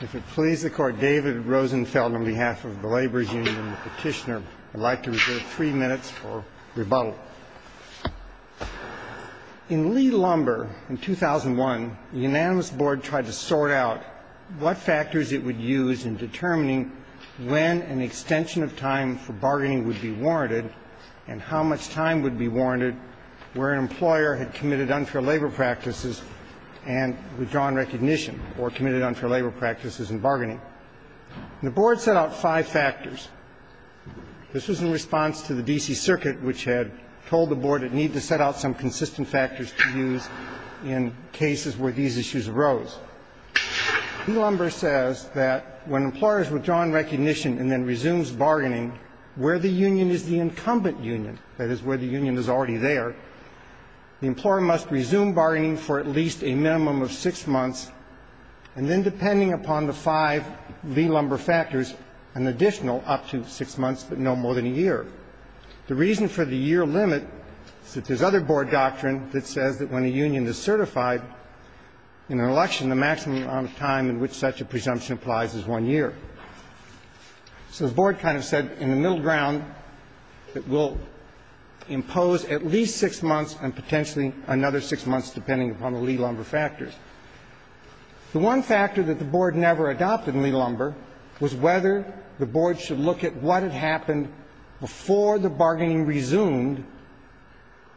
If it pleases the Court, David Rosenfeld, on behalf of the Laborers' Union and the Petitioner, would like to reserve three minutes for rebuttal. In Lee-Lumber in 2001, the Unanimous Board tried to sort out what factors it would use in determining when an extension of time for bargaining would be warranted and how much time would be warranted where an employer had committed unfair labor practices and withdrawn recognition or committed unfair labor practices in bargaining. The Board set out five factors. This was in response to the D.C. Circuit, which had told the Board it needed to set out some consistent factors to use in cases where these issues arose. Lee-Lumber says that when an employer has withdrawn recognition and then resumes bargaining where the union is the incumbent union, that is, where the union is already there, the employer must resume bargaining for at least a minimum of six months and then, depending upon the five Lee-Lumber factors, an additional up to six months, but no more than a year. The reason for the year limit is that there's other Board doctrine that says that when a union is certified in an election, the maximum amount of time in which such a presumption applies is one year. So the Board kind of said, in the middle ground, it will impose at least six months and potentially another six months, depending upon the Lee-Lumber factors. The one factor that the Board never adopted in Lee-Lumber was whether the Board should look at what had happened before the bargaining resumed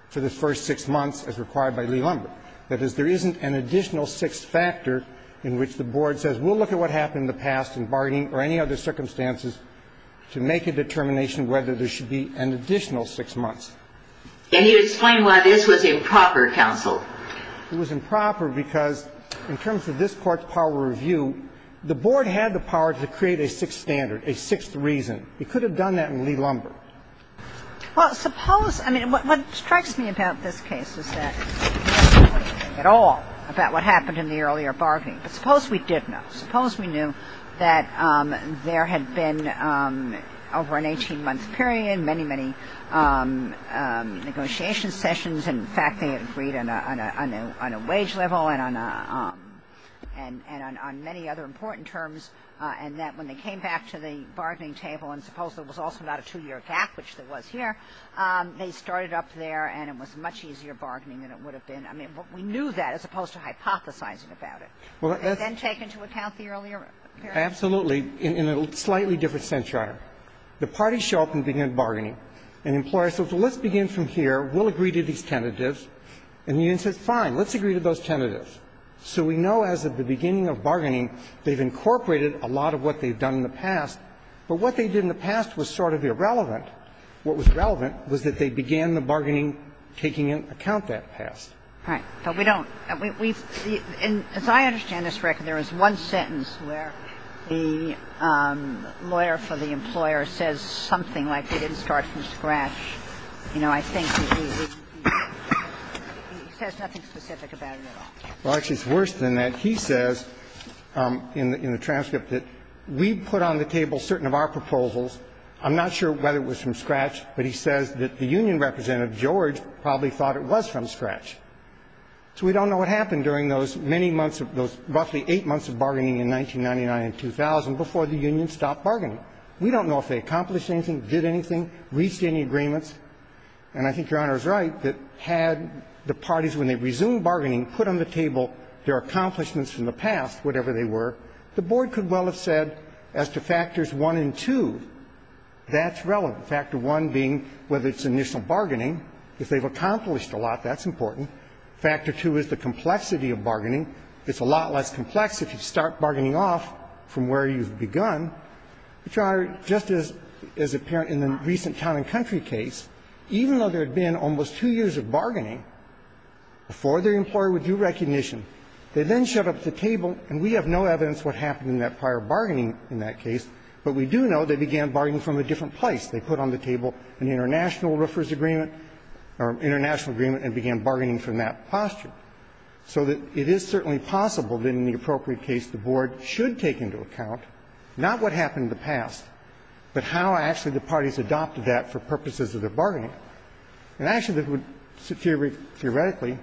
for the first six months as required by Lee-Lumber. That is, there isn't an additional six factor in which the Board says, we'll look at what happened in the past in bargaining or any other circumstances to make a determination whether there should be an additional six months. Can you explain why this was improper, counsel? It was improper because, in terms of this Court's power of review, the Board had the power to create a sixth standard, a sixth reason. It could have done that in Lee-Lumber. Well, suppose – I mean, what strikes me about this case is that we don't know anything at all about what happened in the earlier bargaining. But suppose we did know. Suppose we knew that there had been, over an 18-month period, many, many negotiation sessions. In fact, they had agreed on a wage level and on many other important terms. And that when they came back to the bargaining table, and suppose there was also not a two-year gap, which there was here, they started up there and it was much easier bargaining than it would have been. I mean, we knew that as opposed to hypothesizing about it. And then take into account the earlier period. Absolutely. In a slightly different sense, Your Honor. The parties show up and begin bargaining. An employer says, well, let's begin from here. We'll agree to these tentatives. And the union says, fine, let's agree to those tentatives. So we know as of the beginning of bargaining they've incorporated a lot of what they've done in the past, but what they did in the past was sort of irrelevant. What was relevant was that they began the bargaining taking into account that past. Right. So we don't. And as I understand this record, there is one sentence where the lawyer for the employer says something like they didn't start from scratch. You know, I think he says nothing specific about it at all. Well, actually, it's worse than that. He says in the transcript that we put on the table certain of our proposals. I'm not sure whether it was from scratch, but he says that the union representative, George, probably thought it was from scratch. So we don't know what happened during those many months, those roughly eight months of bargaining in 1999 and 2000 before the union stopped bargaining. We don't know if they accomplished anything, did anything, reached any agreements. And I think Your Honor is right that had the parties, when they resumed bargaining, put on the table their accomplishments from the past, whatever they were, the board could well have said as to factors one and two, that's relevant, factor one being whether it's initial bargaining. If they've accomplished a lot, that's important. Factor two is the complexity of bargaining. It's a lot less complex if you start bargaining off from where you've begun. Your Honor, just as apparent in the recent town and country case, even though there had been almost two years of bargaining before the employer would do recognition, they then showed up at the table, and we have no evidence what happened in that prior bargaining in that case, but we do know they began bargaining from a different place. They put on the table an international roofer's agreement or international agreement and began bargaining from that posture. So that it is certainly possible that in the appropriate case the board should take into account not what happened in the past, but how actually the parties adopted that for purposes of their bargaining. And actually, this would theoretically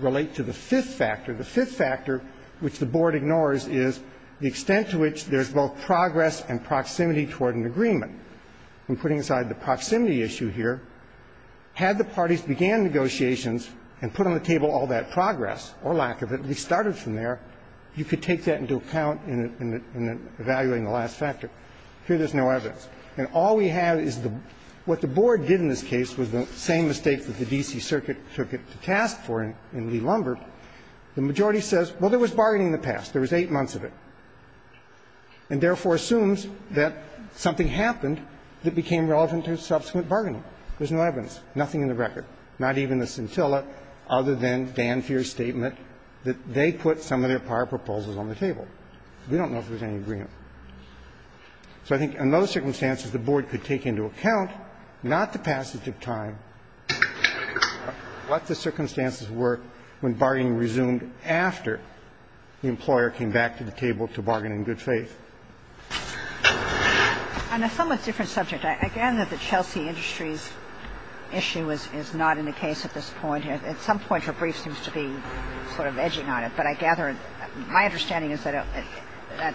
relate to the fifth factor. The fifth factor, which the board ignores, is the extent to which there's both progress and proximity toward an agreement. I'm putting aside the proximity issue here. Had the parties began negotiations and put on the table all that progress or lack of it, at least started from there, you could take that into account in evaluating the last factor. Here there's no evidence. And all we have is the what the board did in this case was the same mistake that the D.C. Circuit took it to task for in Lee-Lumbert. The majority says, well, there was bargaining in the past. There was eight months of it. And therefore assumes that something happened that became relevant to subsequent bargaining. There's no evidence, nothing in the record, not even the scintilla, other than Dan Feer's statement that they put some of their prior proposals on the table. We don't know if there's any agreement. So I think in those circumstances, the board could take into account not the passage of time, what the circumstances were when bargaining resumed after the employer came back to the table to bargain in good faith. And a somewhat different subject. I gather that the Chelsea Industries issue is not in the case at this point. At some point her brief seems to be sort of edging on it. But I gather my understanding is that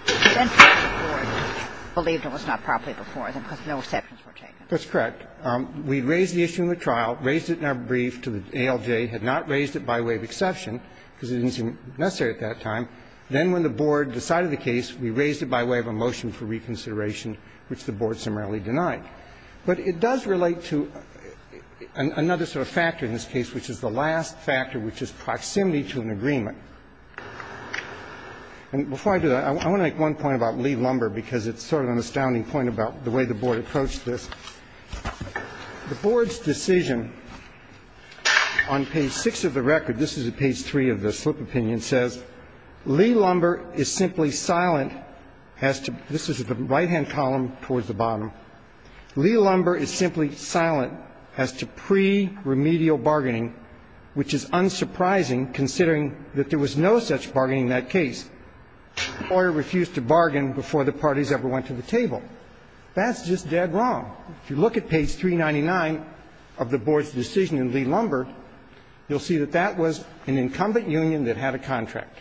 the board believed it was not properly before because no exceptions were taken. That's correct. We raised the issue in the trial, raised it in our brief to the ALJ, had not raised it by way of exception because it didn't seem necessary at that time. Then when the board decided the case, we raised it by way of a motion for reconsideration, which the board summarily denied. But it does relate to another sort of factor in this case, which is the last factor, which is proximity to an agreement. And before I do that, I want to make one point about Lee Lumber because it's sort of an astounding point about the way the board approached this. The board's decision on page 6 of the record, this is at page 3 of the slip opinion, says, Lee Lumber is simply silent as to the right-hand column towards the bottom. Lee Lumber is simply silent as to pre-remedial bargaining, which is unsurprising considering that there was no such bargaining in that case. The lawyer refused to bargain before the parties ever went to the table. That's just dead wrong. If you look at page 399 of the board's decision in Lee Lumber, you'll see that that was an incumbent union that had a contract.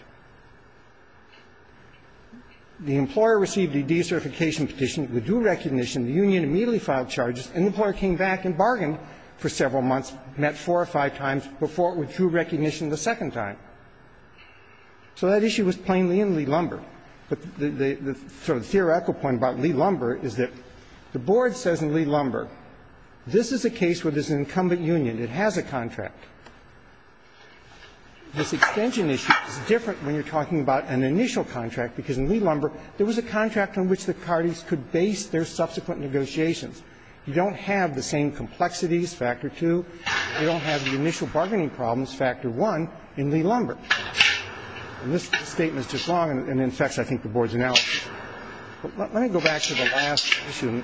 The employer received a decertification petition. It would do recognition. The union immediately filed charges. And the employer came back and bargained for several months, met four or five times before it would do recognition the second time. So that issue was plainly in Lee Lumber. But the sort of theoretical point about Lee Lumber is that the board says in Lee Lumber, this is a case where there's an incumbent union. It has a contract. This extension issue is different when you're talking about an initial contract, because in Lee Lumber, there was a contract on which the parties could base their subsequent negotiations. You don't have the same complexities, Factor 2. You don't have the initial bargaining problems, Factor 1, in Lee Lumber. And this statement is just wrong and infects, I think, the board's analysis. Let me go back to the last issue,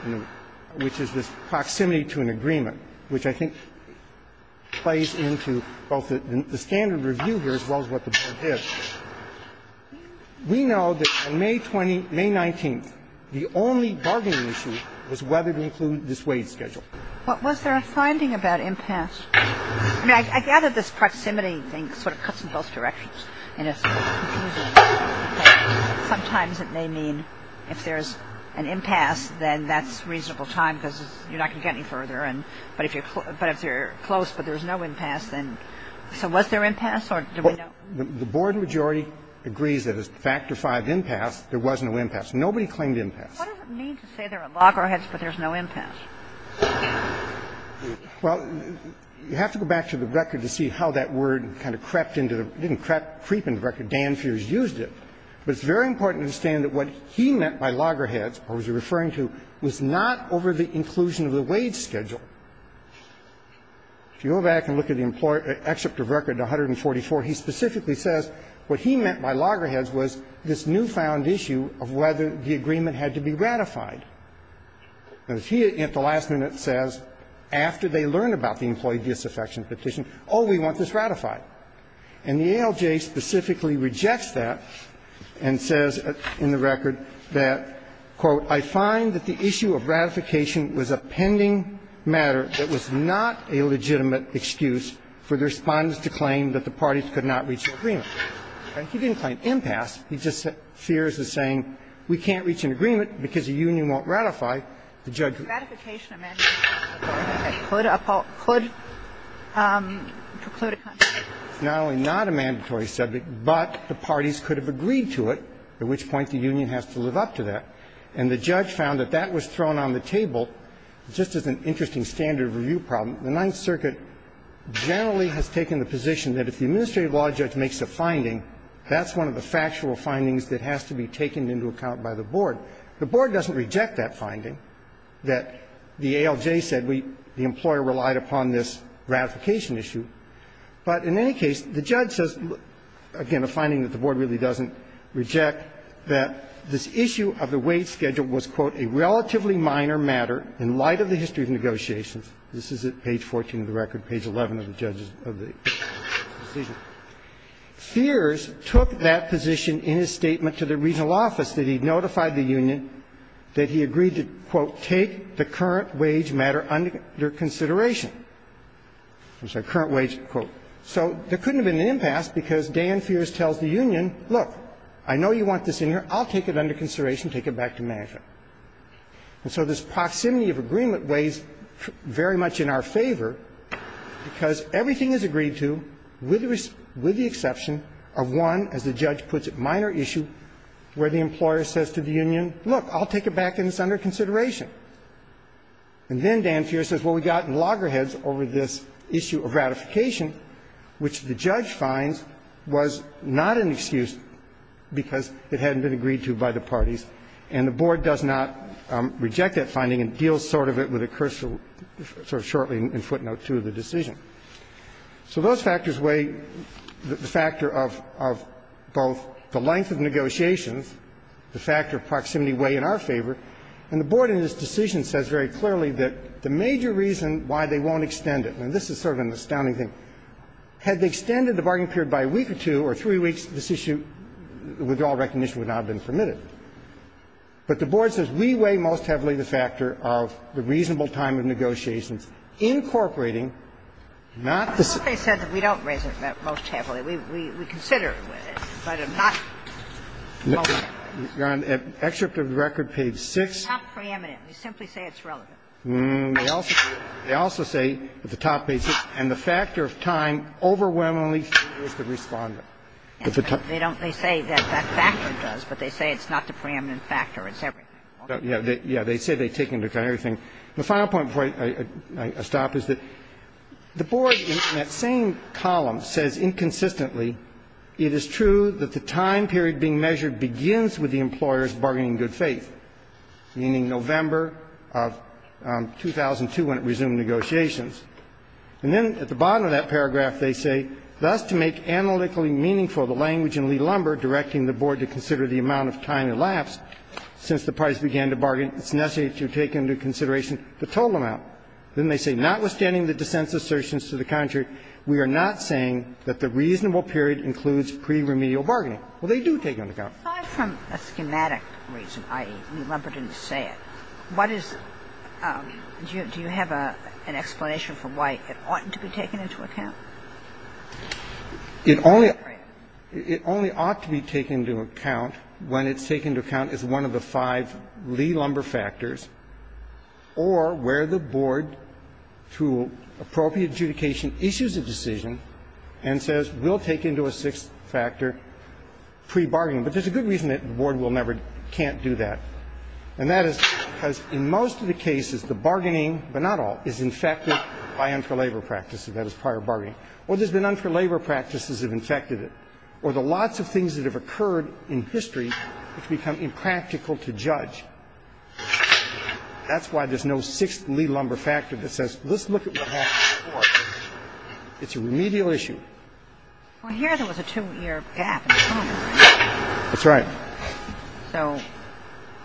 which is this proximity to an agreement, which I think plays into both the standard review here as well as what the board has. We know that on May 20th, May 19th, the only bargaining issue was whether to include this wage schedule. What was their finding about impasse? I mean, I gather this proximity thing sort of cuts in both directions. And it's confusing. Sometimes it may mean if there's an impasse, then that's reasonable time because you're not going to get any further. But if you're close, but there's no impasse, then so was there impasse? Or do we know? The board majority agrees that as Factor 5 impasse, there was no impasse. Nobody claimed impasse. What does it mean to say there are loggerheads, but there's no impasse? Well, you have to go back to the record to see how that word kind of crept into the – didn't creep into the record. Dan Fiers used it. But it's very important to understand that what he meant by loggerheads, or was he referring to, was not over the inclusion of the wage schedule. If you go back and look at the Employee Excerpt of Record 144, he specifically says what he meant by loggerheads was this newfound issue of whether the agreement had to be ratified. And he, at the last minute, says after they learn about the employee disaffection petition, oh, we want this ratified. And the ALJ specifically rejects that and says in the record that, quote, I find that the issue of ratification was a pending matter that was not a legitimate excuse for the Respondents to claim that the parties could not reach an agreement. He didn't claim impasse. He just said Fiers is saying we can't reach an agreement because the union won't ratify the judgment. Ratification, a mandatory subject, could preclude a contract. Not only not a mandatory subject, but the parties could have agreed to it, at which point the union has to live up to that. And the judge found that that was thrown on the table. Just as an interesting standard of review problem, the Ninth Circuit generally has taken the position that if the administrative law judge makes a finding, that's one of the factual findings that has to be taken into account by the board. The board doesn't reject that finding, that the ALJ said the employer relied upon this ratification issue. But in any case, the judge says, again, a finding that the board really doesn't reject that this issue of the wage schedule was, quote, a relatively minor matter in light of the history of negotiations. This is at page 14 of the record, page 11 of the judge's decision. Fiers took that position in his statement to the regional office that he notified the union that he agreed to, quote, take the current wage matter under consideration. I'm sorry, current wage, quote. So there couldn't have been an impasse because Dan Fiers tells the union, look, I know you want this in here. I'll take it under consideration, take it back to management. And so this proximity of agreement weighs very much in our favor because everything is agreed to with the exception of one, as the judge puts it, minor issue where the employer says to the union, look, I'll take it back and it's under consideration. And then Dan Fiers says, well, we got in loggerheads over this issue of ratification, which the judge finds was not an excuse because it hadn't been agreed to by the parties, and the board does not reject that finding and deals sort of it with a cursive sort of shortly in footnote 2 of the decision. So those factors weigh the factor of both the length of negotiations, the factor of proximity weigh in our favor. And the board in this decision says very clearly that the major reason why they won't extend it, and this is sort of an astounding thing, had they extended the bargain period by a week or two or three weeks, this issue, withdrawal recognition, would not have been permitted. But the board says we weigh most heavily the factor of the reasonable time of negotiations incorporating not the same. We don't weigh it most heavily. We consider it, but it's not relevant. Your Honor, excerpt of the record page 6. It's not preeminent. They simply say it's relevant. They also say that the top page 6. And the factor of time overwhelmingly is the respondent. They don't. They say that that factor does, but they say it's not the preeminent factor. It's everything. They say they take into account everything. The final point before I stop is that the board in that same column says inconsistently it is true that the time period being measured begins with the employers bargaining in good faith, meaning November of 2002 when it resumed negotiations. And then at the bottom of that paragraph they say, thus to make analytically meaningful the language in Lee Lumber directing the board to consider the amount of time elapsed since the parties began to bargain, it's necessary to take into consideration the total amount. Then they say, notwithstanding the dissent's assertions to the contrary, we are not saying that the reasonable period includes pre-remedial bargaining. Well, they do take it into account. Ginsburg. Aside from a schematic reason, i.e., Lee Lumber didn't say it, what is do you have an explanation for why it oughtn't to be taken into account? It only ought to be taken into account when it's taken into account as one of the five Lee Lumber factors or where the board, through appropriate adjudication, issues a decision and says we'll take into a sixth factor pre-bargaining. But there's a good reason that the board will never can't do that, and that is because in most of the cases the bargaining, but not all, is infected by unfair labor practices. That is prior bargaining. Or there's been unfair labor practices that have infected it. And that's why there's no sixth Lee Lumber factor that says, let's look at what happened before. It's a remedial issue. Well, here there was a two-year gap in Congress. That's right. So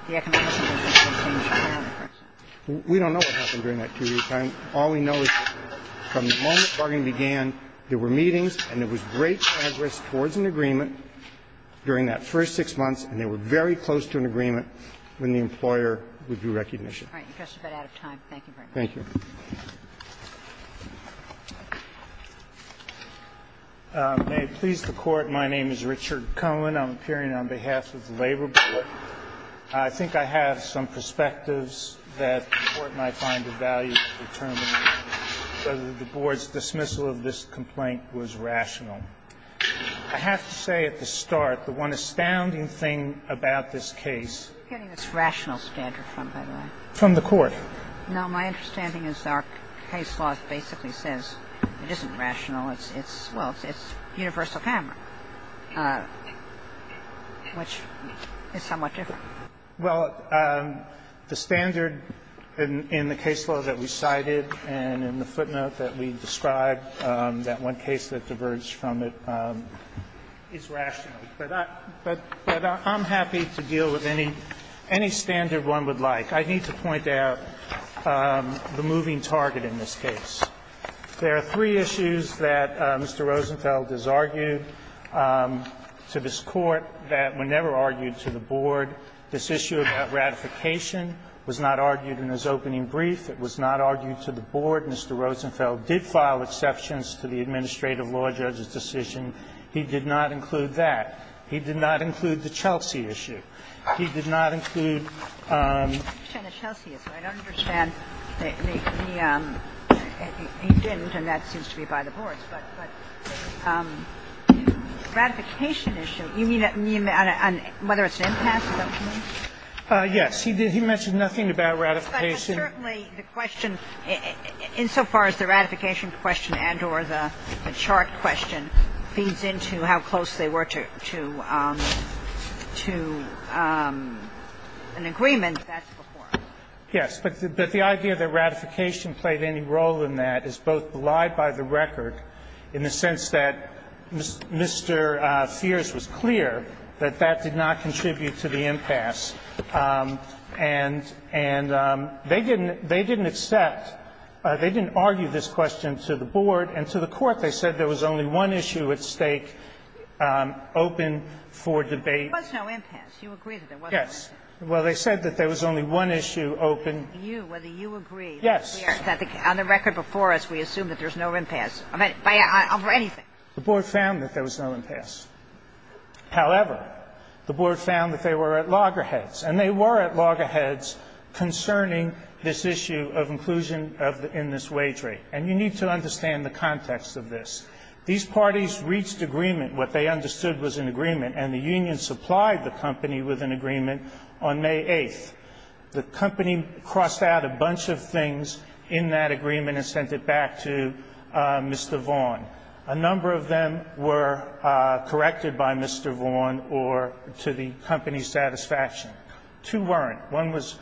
the economic situation changed from there onward. We don't know what happened during that two-year time. All we know is that from the moment bargaining began, there were meetings and there was great progress towards a two-year agreement. So the board was in agreement during that first six months, and they were very close to an agreement when the employer would do recognition. All right. You're just about out of time. Thank you very much. Thank you. May it please the Court, my name is Richard Cohen. I'm appearing on behalf of the Labor Board. I think I have some perspectives that the Court might find of value to determine whether the board's dismissal of this complaint was rational. I have to say at the start, the one astounding thing about this case. What are you getting this rational standard from, by the way? From the Court. No, my understanding is our case law basically says it isn't rational. It's, well, it's universal camera, which is somewhat different. Well, the standard in the case law that we cited and in the footnote that we described, that one case that diverged from it, is rational. But I'm happy to deal with any standard one would like. I need to point out the moving target in this case. There are three issues that Mr. Rosenfeld has argued to this Court that were never argued to the board. This issue about ratification was not argued in his opening brief. It was not argued to the board. Mr. Rosenfeld did file exceptions to the administrative law judge's decision. He did not include that. He did not include the Chelsea issue. He did not include. He didn't, and that seems to be by the boards. But the ratification issue, you mean whether it's an impasse, is that what you mean? Yes. He mentioned nothing about ratification. But certainly the question, insofar as the ratification question and or the chart question feeds into how close they were to an agreement, that's before us. Yes. But the idea that ratification played any role in that is both belied by the record in the sense that Mr. Feers was clear that that did not contribute to the impasse and they didn't accept, they didn't argue this question to the board and to the court. They said there was only one issue at stake open for debate. There was no impasse. You agree that there was no impasse. Yes. Well, they said that there was only one issue open. Whether you agree. Yes. On the record before us, we assume that there's no impasse over anything. The board found that there was no impasse. However, the board found that they were at loggerheads. And they were at loggerheads concerning this issue of inclusion in this wage rate. And you need to understand the context of this. These parties reached agreement. What they understood was an agreement. And the union supplied the company with an agreement on May 8th. The company crossed out a bunch of things in that agreement and sent it back to Mr. Vaughan. A number of them were corrected by Mr. Vaughan or to the company's satisfaction. Two weren't. One was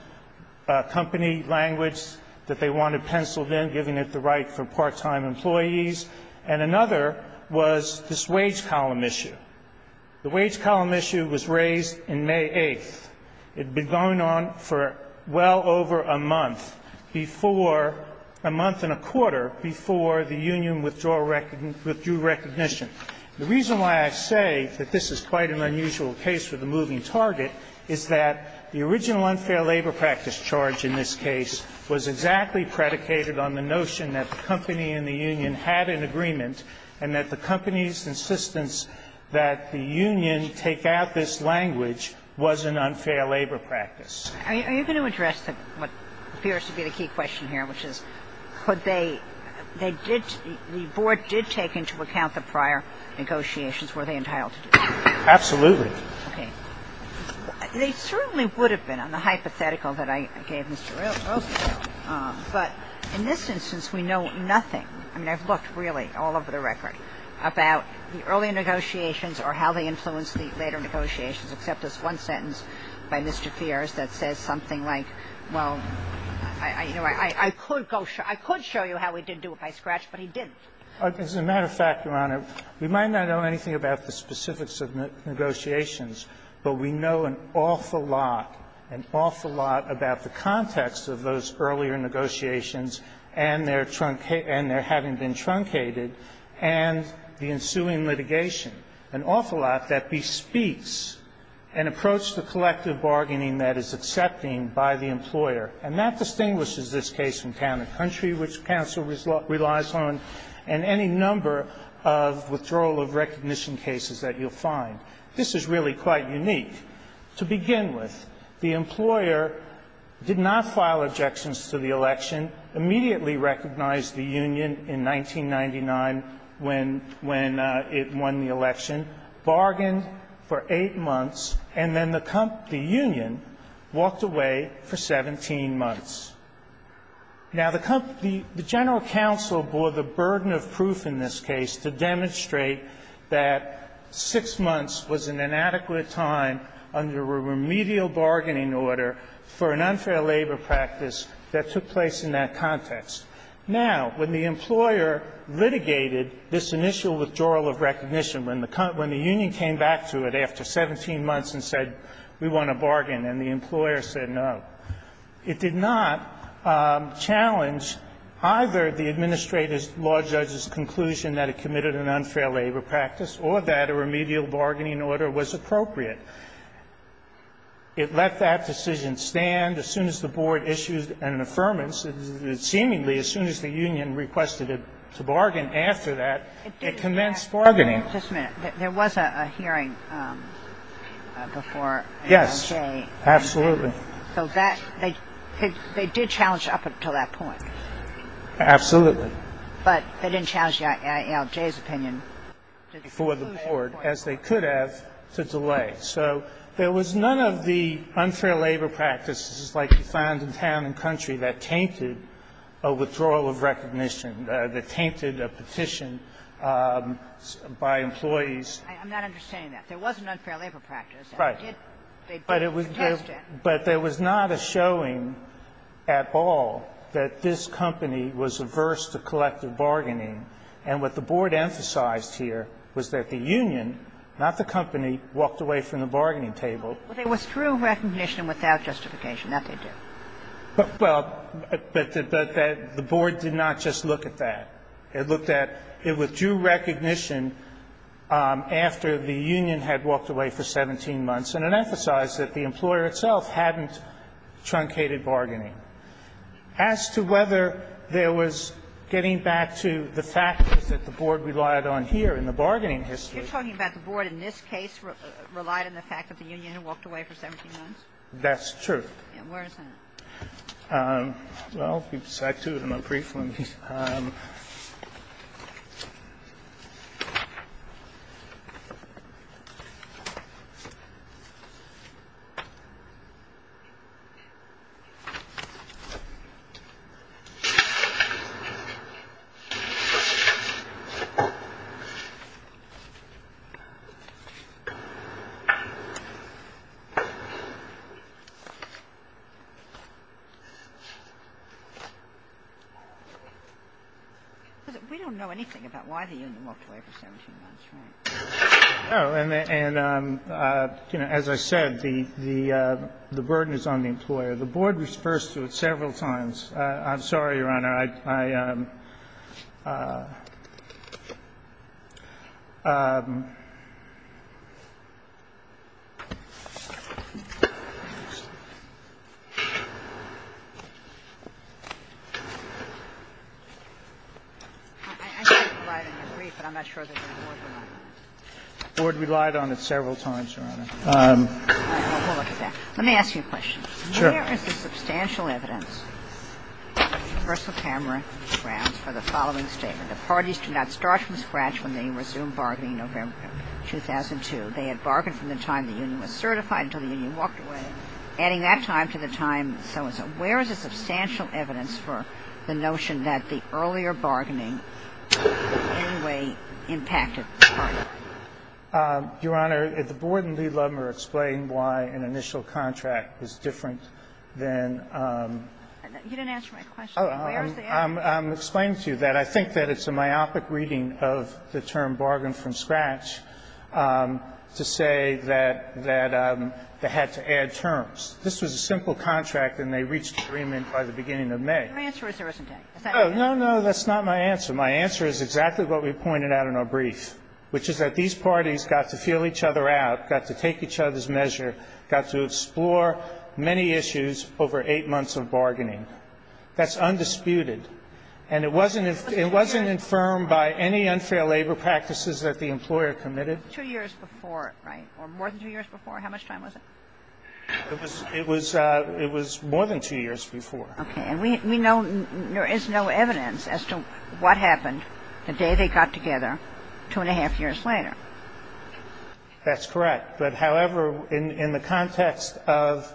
company language that they wanted penciled in, giving it the right for part-time employees. And another was this wage column issue. The wage column issue was raised in May 8th. It had been going on for well over a month before the union withdrew recognition. The reason why I say that this is quite an unusual case with a moving target is that the original unfair labor practice charge in this case was exactly predicated on the notion that the company and the union had an agreement and that the company's Without this language was an unfair labor practice. Are you going to address what appears to be the key question here, which is could they ‑‑ the board did take into account the prior negotiations. Were they entitled to do that? Absolutely. Okay. They certainly would have been on the hypothetical that I gave Mr. Rowe. But in this instance, we know nothing. I mean, I've looked really all over the record about the early negotiations or how they influenced the later negotiations, except this one sentence by Mr. Feers that says something like, well, you know, I could go ‑‑ I could show you how he did do it by scratch, but he didn't. As a matter of fact, Your Honor, we might not know anything about the specifics of negotiations, but we know an awful lot, an awful lot about the context of those earlier negotiations and their having been truncated and the ensuing litigation. An awful lot that bespeaks an approach to collective bargaining that is accepting by the employer. And that distinguishes this case from countercountry, which counsel relies on, and any number of withdrawal of recognition cases that you'll find. This is really quite unique. To begin with, the employer did not file objections to the election, immediately recognized the union in 1999 when it won the election, bargained for eight months, and then the union walked away for 17 months. Now, the general counsel bore the burden of proof in this case to demonstrate that six months was an inadequate time under a remedial bargaining order for an unfair labor practice that took place in that context. Now, when the employer litigated this initial withdrawal of recognition, when the union came back to it after 17 months and said, we want to bargain, and the employer said no, it did not challenge either the administrator's law judge's conclusion that it committed an unfair labor practice or that a remedial bargaining order was appropriate. It let that decision stand. As soon as the Board issued an affirmance, seemingly as soon as the union requested to bargain after that, it commenced bargaining. Just a minute. There was a hearing before ALJ. Yes. Absolutely. So that they did challenge up until that point. Absolutely. But they didn't challenge ALJ's opinion. Before the Board, as they could have, to delay. Right. So there was none of the unfair labor practices like you find in town and country that tainted a withdrawal of recognition, that tainted a petition by employees. I'm not understanding that. There was an unfair labor practice. Right. But there was not a showing at all that this company was averse to collective bargaining. And what the Board emphasized here was that the union, not the company, walked away from the bargaining table. It withdrew recognition without justification. That they did. Well, but the Board did not just look at that. It looked at it withdrew recognition after the union had walked away for 17 months, and it emphasized that the employer itself hadn't truncated bargaining. As to whether there was getting back to the factors that the Board relied on here in the bargaining history. You're talking about the Board, in this case, relied on the fact that the union had walked away for 17 months? That's true. And where is that? Well, we've sat through them briefly. Let me see. We don't know anything about why the union walked away for 17 months, right? No. And, you know, as I said, the burden is on the employer. The Board refers to it several times. I'm sorry, Your Honor. The Board relied on it several times, Your Honor. Let me ask you a question. Sure. Where is the substantial evidence for the following statement? The parties do not start from scratch when they resume bargaining November 2002. They had bargained from the time the union was certified until the union walked away, adding that time to the time so-and-so. Where is the substantial evidence for the notion that the earlier bargaining in any way impacted the bargain? Your Honor, the Board and Lee Ludmer explained why an initial contract is different than the other. You didn't answer my question. Where is the evidence? I'm explaining to you that. I think that it's a myopic reading of the term bargain from scratch to say that they had to add terms. This was a simple contract, and they reached agreement by the beginning of May. Your answer is there isn't any. No, no. That's not my answer. My answer is exactly what we pointed out in our brief, which is that these parties got to feel each other out, got to take each other's measure, got to explore many issues over eight months of bargaining. That's undisputed. And it wasn't infirmed by any unfair labor practices that the employer committed. Two years before, right, or more than two years before? How much time was it? It was more than two years before. Okay. And we know there is no evidence as to what happened the day they got together two and a half years later. That's correct. But, however, in the context of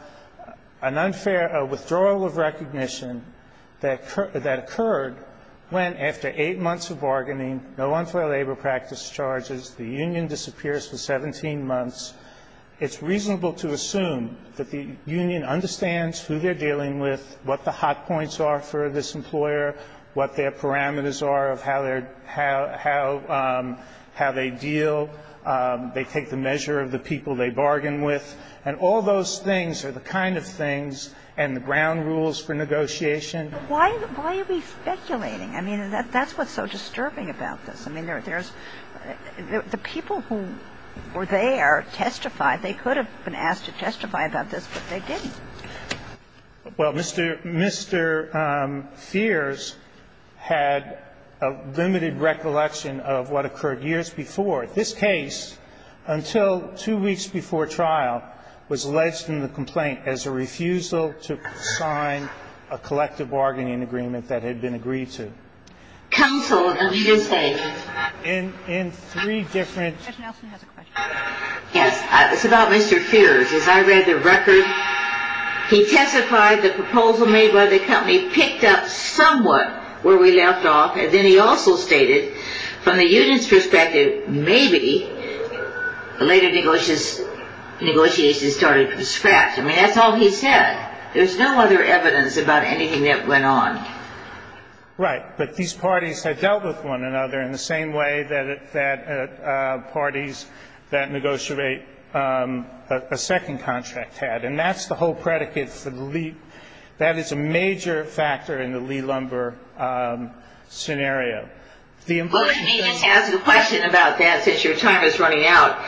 an unfair withdrawal of recognition that occurred when after eight months of bargaining, no unfair labor practice charges, the union disappears for 17 months, it's reasonable to assume that the union understands who they're dealing with, what the hot points are for this employer, what their parameters are of how they deal. They take the measure of the people they bargain with. And all those things are the kind of things and the ground rules for negotiation. Why are we speculating? I mean, that's what's so disturbing about this. I mean, there's the people who were there testified. They could have been asked to testify about this, but they didn't. Well, Mr. Feers had a limited recollection of what occurred years before. This case, until two weeks before trial, was alleged in the complaint as a refusal to sign a collective bargaining agreement that had been agreed to. Counsel, you did say? In three different... Judge Nelson has a question. Yes. It's about Mr. Feers. As I read the record, he testified the proposal made by the company picked up somewhat where we left off, and then he also stated, from the union's perspective, maybe the later negotiations started from scratch. I mean, that's all he said. There's no other evidence about anything that went on. Right. But these parties had dealt with one another in the same way that parties that negotiate a second contract had, and that's the whole predicate for the leap. That is a major factor in the Lee-Lumber scenario. The impression... Well, let me just ask a question about that since your time is running out.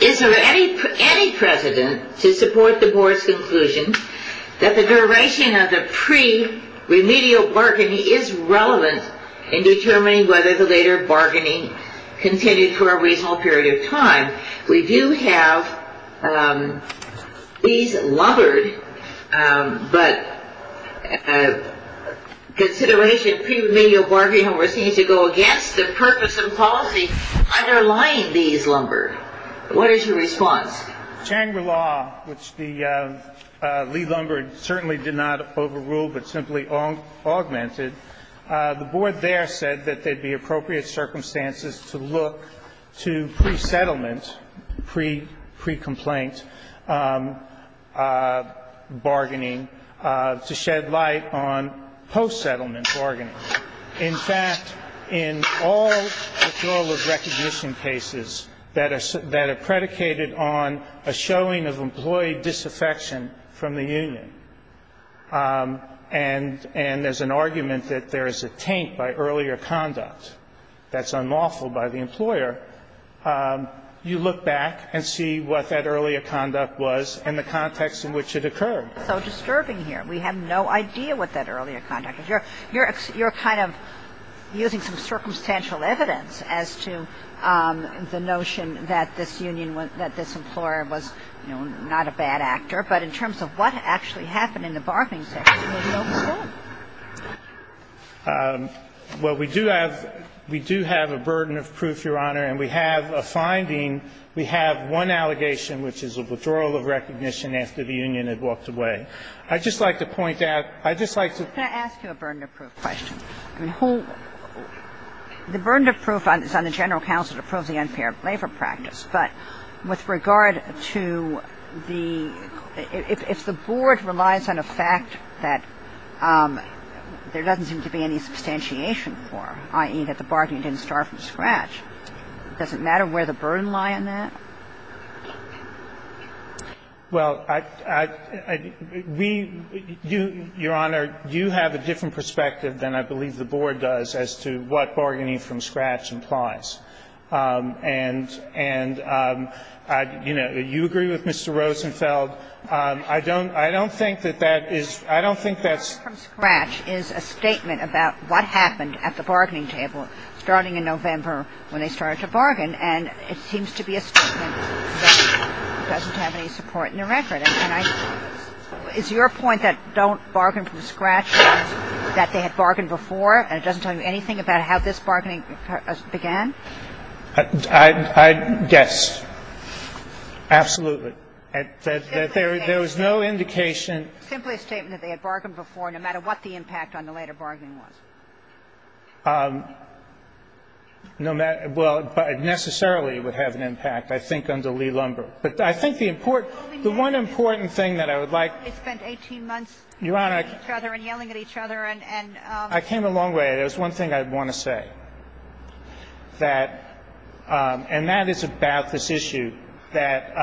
Is there any precedent to support the board's conclusion that the duration of the pre-remedial bargaining is relevant in determining whether the later bargaining continued for a reasonable period of time? We do have Lee's Lumber, but consideration of pre-remedial bargaining, we're seeing it to go against the purpose and policy underlying Lee's Lumber. What is your response? It's general law, which Lee Lumber certainly did not overrule but simply augmented. The board there said that there would be appropriate circumstances to look to pre-settlement, pre-complaint bargaining to shed light on post-settlement bargaining. In fact, in all withdrawal of recognition cases that are predicated on a showing of employee disaffection from the union and as an argument that there is a taint by earlier conduct that's unlawful by the employer, you look back and see what that earlier conduct was and the context in which it occurred. It's so disturbing here. We have no idea what that earlier conduct is. You're kind of using some circumstantial evidence as to the notion that this union was, that this employer was, you know, not a bad actor. But in terms of what actually happened in the bargaining section, there's no proof. Well, we do have a burden of proof, Your Honor, and we have a finding. We have one allegation, which is a withdrawal of recognition after the union had walked away. I'd just like to point out, I'd just like to point out. I'm not going to ask you a burden of proof question. I mean, the burden of proof is on the general counsel to prove the unfair labor practice. But with regard to the – if the Board relies on a fact that there doesn't seem to be any substantiation for, i.e., that the bargaining didn't start from scratch, does it matter where the burden lie in that? Well, I – we – you, Your Honor, you have a different perspective than I believe the Board does as to what bargaining from scratch implies. And, you know, you agree with Mr. Rosenfeld. I don't think that that is – I don't think that's – Bargaining from scratch is a statement about what happened at the bargaining table starting in November when they started to bargain. And it seems to be a statement that doesn't have any support in the record. And I – is your point that don't bargain from scratch means that they had bargained before and it doesn't tell you anything about how this bargaining began? I'd guess. Absolutely. That there was no indication. Simply a statement that they had bargained before, no matter what the impact on the later bargaining was. No matter – well, necessarily it would have an impact, I think, under Lee-Lumber. But I think the important – the one important thing that I would like – They spent 18 months – Your Honor, I – Yelling at each other and – I came a long way. There's one thing I want to say, that – and that is about this issue that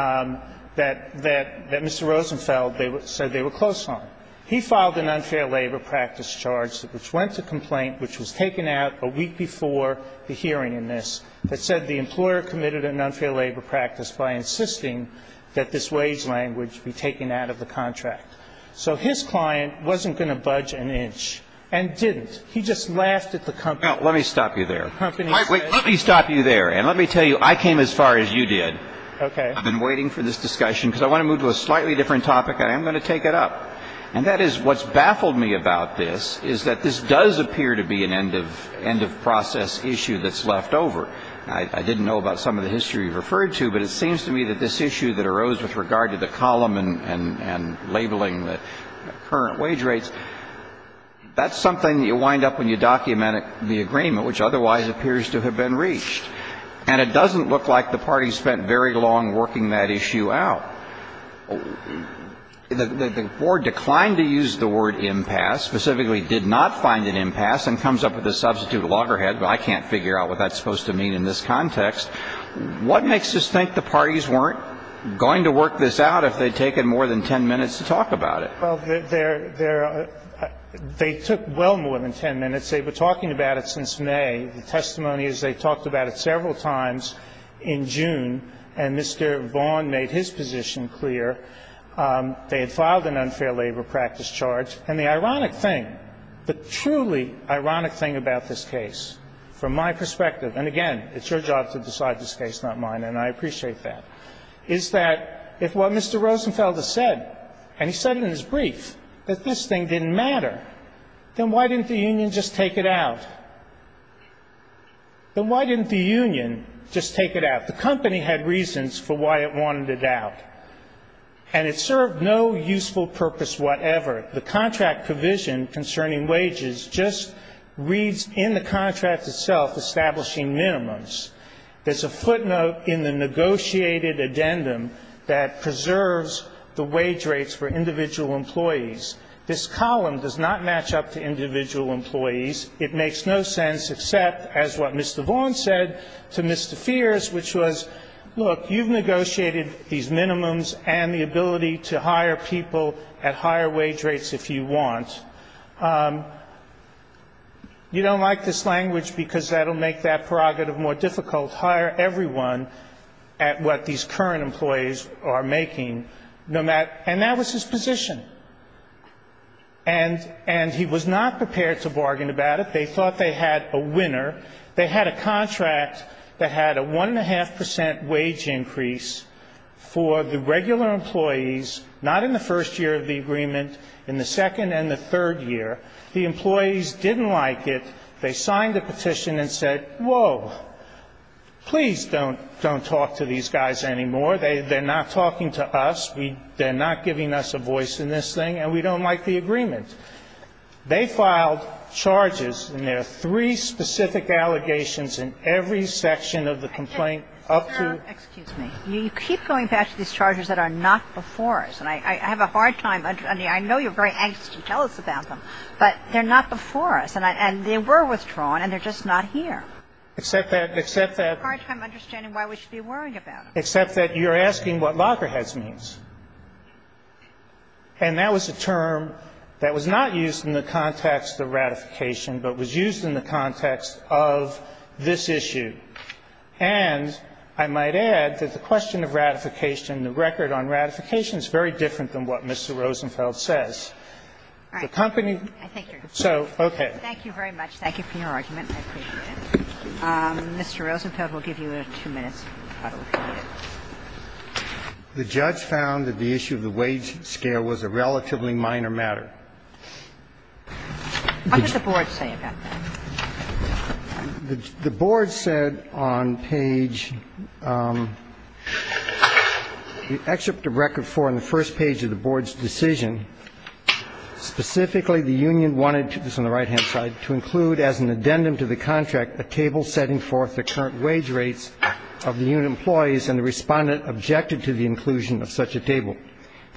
Mr. Rosenfeld said they were close on. He filed an unfair labor practice charge, which went to complaint, which was taken out a week before the hearing in this, that said the employer committed an unfair labor practice by insisting that this wage language be taken out of the contract. So his client wasn't going to budge an inch and didn't. He just laughed at the company. Now, let me stop you there. Wait. Let me stop you there. And let me tell you, I came as far as you did. Okay. I've been waiting for this discussion because I want to move to a slightly different topic. I am going to take it up. And that is, what's baffled me about this is that this does appear to be an end-of-process issue that's left over. I didn't know about some of the history you referred to, but it seems to me that this issue that arose with regard to the column and labeling the current wage rates, that's something that you wind up when you document the agreement, which otherwise appears to have been reached. And it doesn't look like the party spent very long working that issue out. The Board declined to use the word impasse, specifically did not find an impasse and comes up with a substitute loggerhead, but I can't figure out what that's supposed to mean in this context. What makes us think the parties weren't going to work this out if they'd taken more than 10 minutes to talk about it? Well, they're – they took well more than 10 minutes. They were talking about it since May. The testimony is they talked about it several times in June, and Mr. Vaughn made his position clear. They had filed an unfair labor practice charge. And the ironic thing, the truly ironic thing about this case, from my perspective – and again, it's your job to decide this case, not mine, and I appreciate that – is that if what Mr. Rosenfeld has said, and he said it in his brief, that this thing didn't matter, then why didn't the union just take it out? Then why didn't the union just take it out? The company had reasons for why it wanted it out, and it served no useful purpose whatever. The contract provision concerning wages just reads in the contract itself establishing minimums. There's a footnote in the negotiated addendum that preserves the wage rates for individual employees. This column does not match up to individual employees. It makes no sense except as what Mr. Vaughn said to Mr. Feers, which was, look, you've negotiated these minimums and the ability to hire people at higher wage rates if you want. You don't like this language because that will make that prerogative more difficult. Hire everyone at what these current employees are making, no matter – and that was his position. And he was not prepared to bargain about it. They thought they had a winner. They had a contract that had a one-and-a-half percent wage increase for the regular employees, not in the first year of the agreement, in the second and the third year. The employees didn't like it. They signed the petition and said, whoa, please don't talk to these guys anymore. They're not talking to us. They're not giving us a voice in this thing. And we don't like the agreement. They filed charges, and there are three specific allegations in every section of the complaint up to – Excuse me. You keep going back to these charges that are not before us. And I have a hard time – I mean, I know you're very anxious to tell us about them, but they're not before us. And they were withdrawn, and they're just not here. Except that – It's a hard time understanding why we should be worrying about them. Except that you're asking what Lockerheads means. And that was a term that was not used in the context of ratification, but was used in the context of this issue. And I might add that the question of ratification, the record on ratification, is very different than what Mr. Rosenfeld says. The company – All right. I think you're done. So, okay. Thank you very much. Thank you for your argument. I appreciate it. Mr. Rosenfeld, we'll give you two minutes. The judge found that the issue of the wage scale was a relatively minor matter. What did the board say about that? The board said on page – the excerpt of record 4 on the first page of the board's decision, specifically the union wanted – this is on the right-hand side – to include as an addendum to the contract a table setting forth the current wage rates of the union employees, and the Respondent objected to the inclusion of such a table.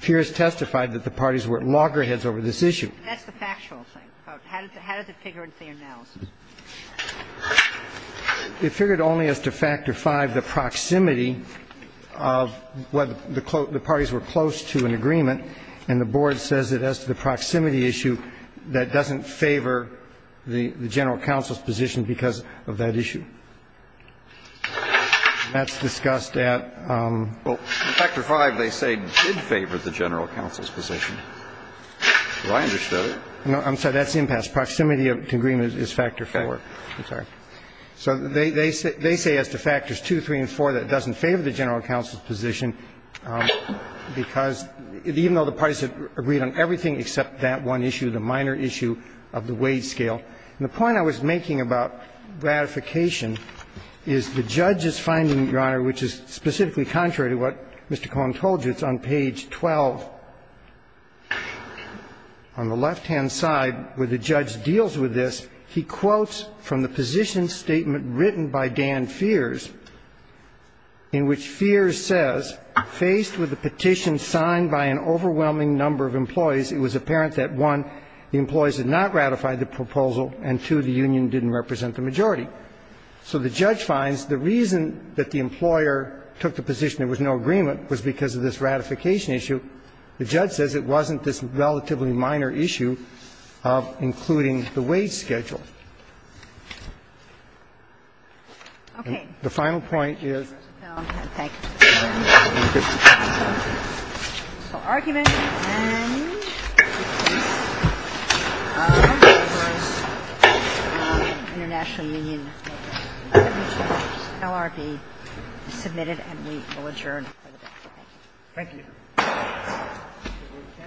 Pierce testified that the parties were at Lockerheads over this issue. That's the factual thing. How does it figure into the analysis? It figured only as to Factor V, the proximity of what the parties were close to in agreement. And the board says that as to the proximity issue, that doesn't favor the general counsel's position because of that issue. That's discussed at – Well, in Factor V, they say it did favor the general counsel's position. So I understood it. No, I'm sorry. That's impasse. Proximity to agreement is Factor IV. Okay. I'm sorry. So they say as to Factors II, III, and IV, that doesn't favor the general counsel's position because even though the parties agreed on everything except that one issue, the minor issue of the wage scale. And the point I was making about ratification is the judge is finding, Your Honor, which is specifically contrary to what Mr. Cohen told you. It's on page 12. On the left-hand side where the judge deals with this, he quotes from the position written by Dan Feers in which Feers says, Faced with the petition signed by an overwhelming number of employees, it was apparent that, one, the employees had not ratified the proposal, and, two, the union didn't represent the majority. So the judge finds the reason that the employer took the position there was no agreement was because of this ratification issue. The judge says it wasn't this relatively minor issue of including the wage schedule. Okay. The final point is the argument and international union LRB submitted, and we will adjourn for the day. Thank you. Thank you.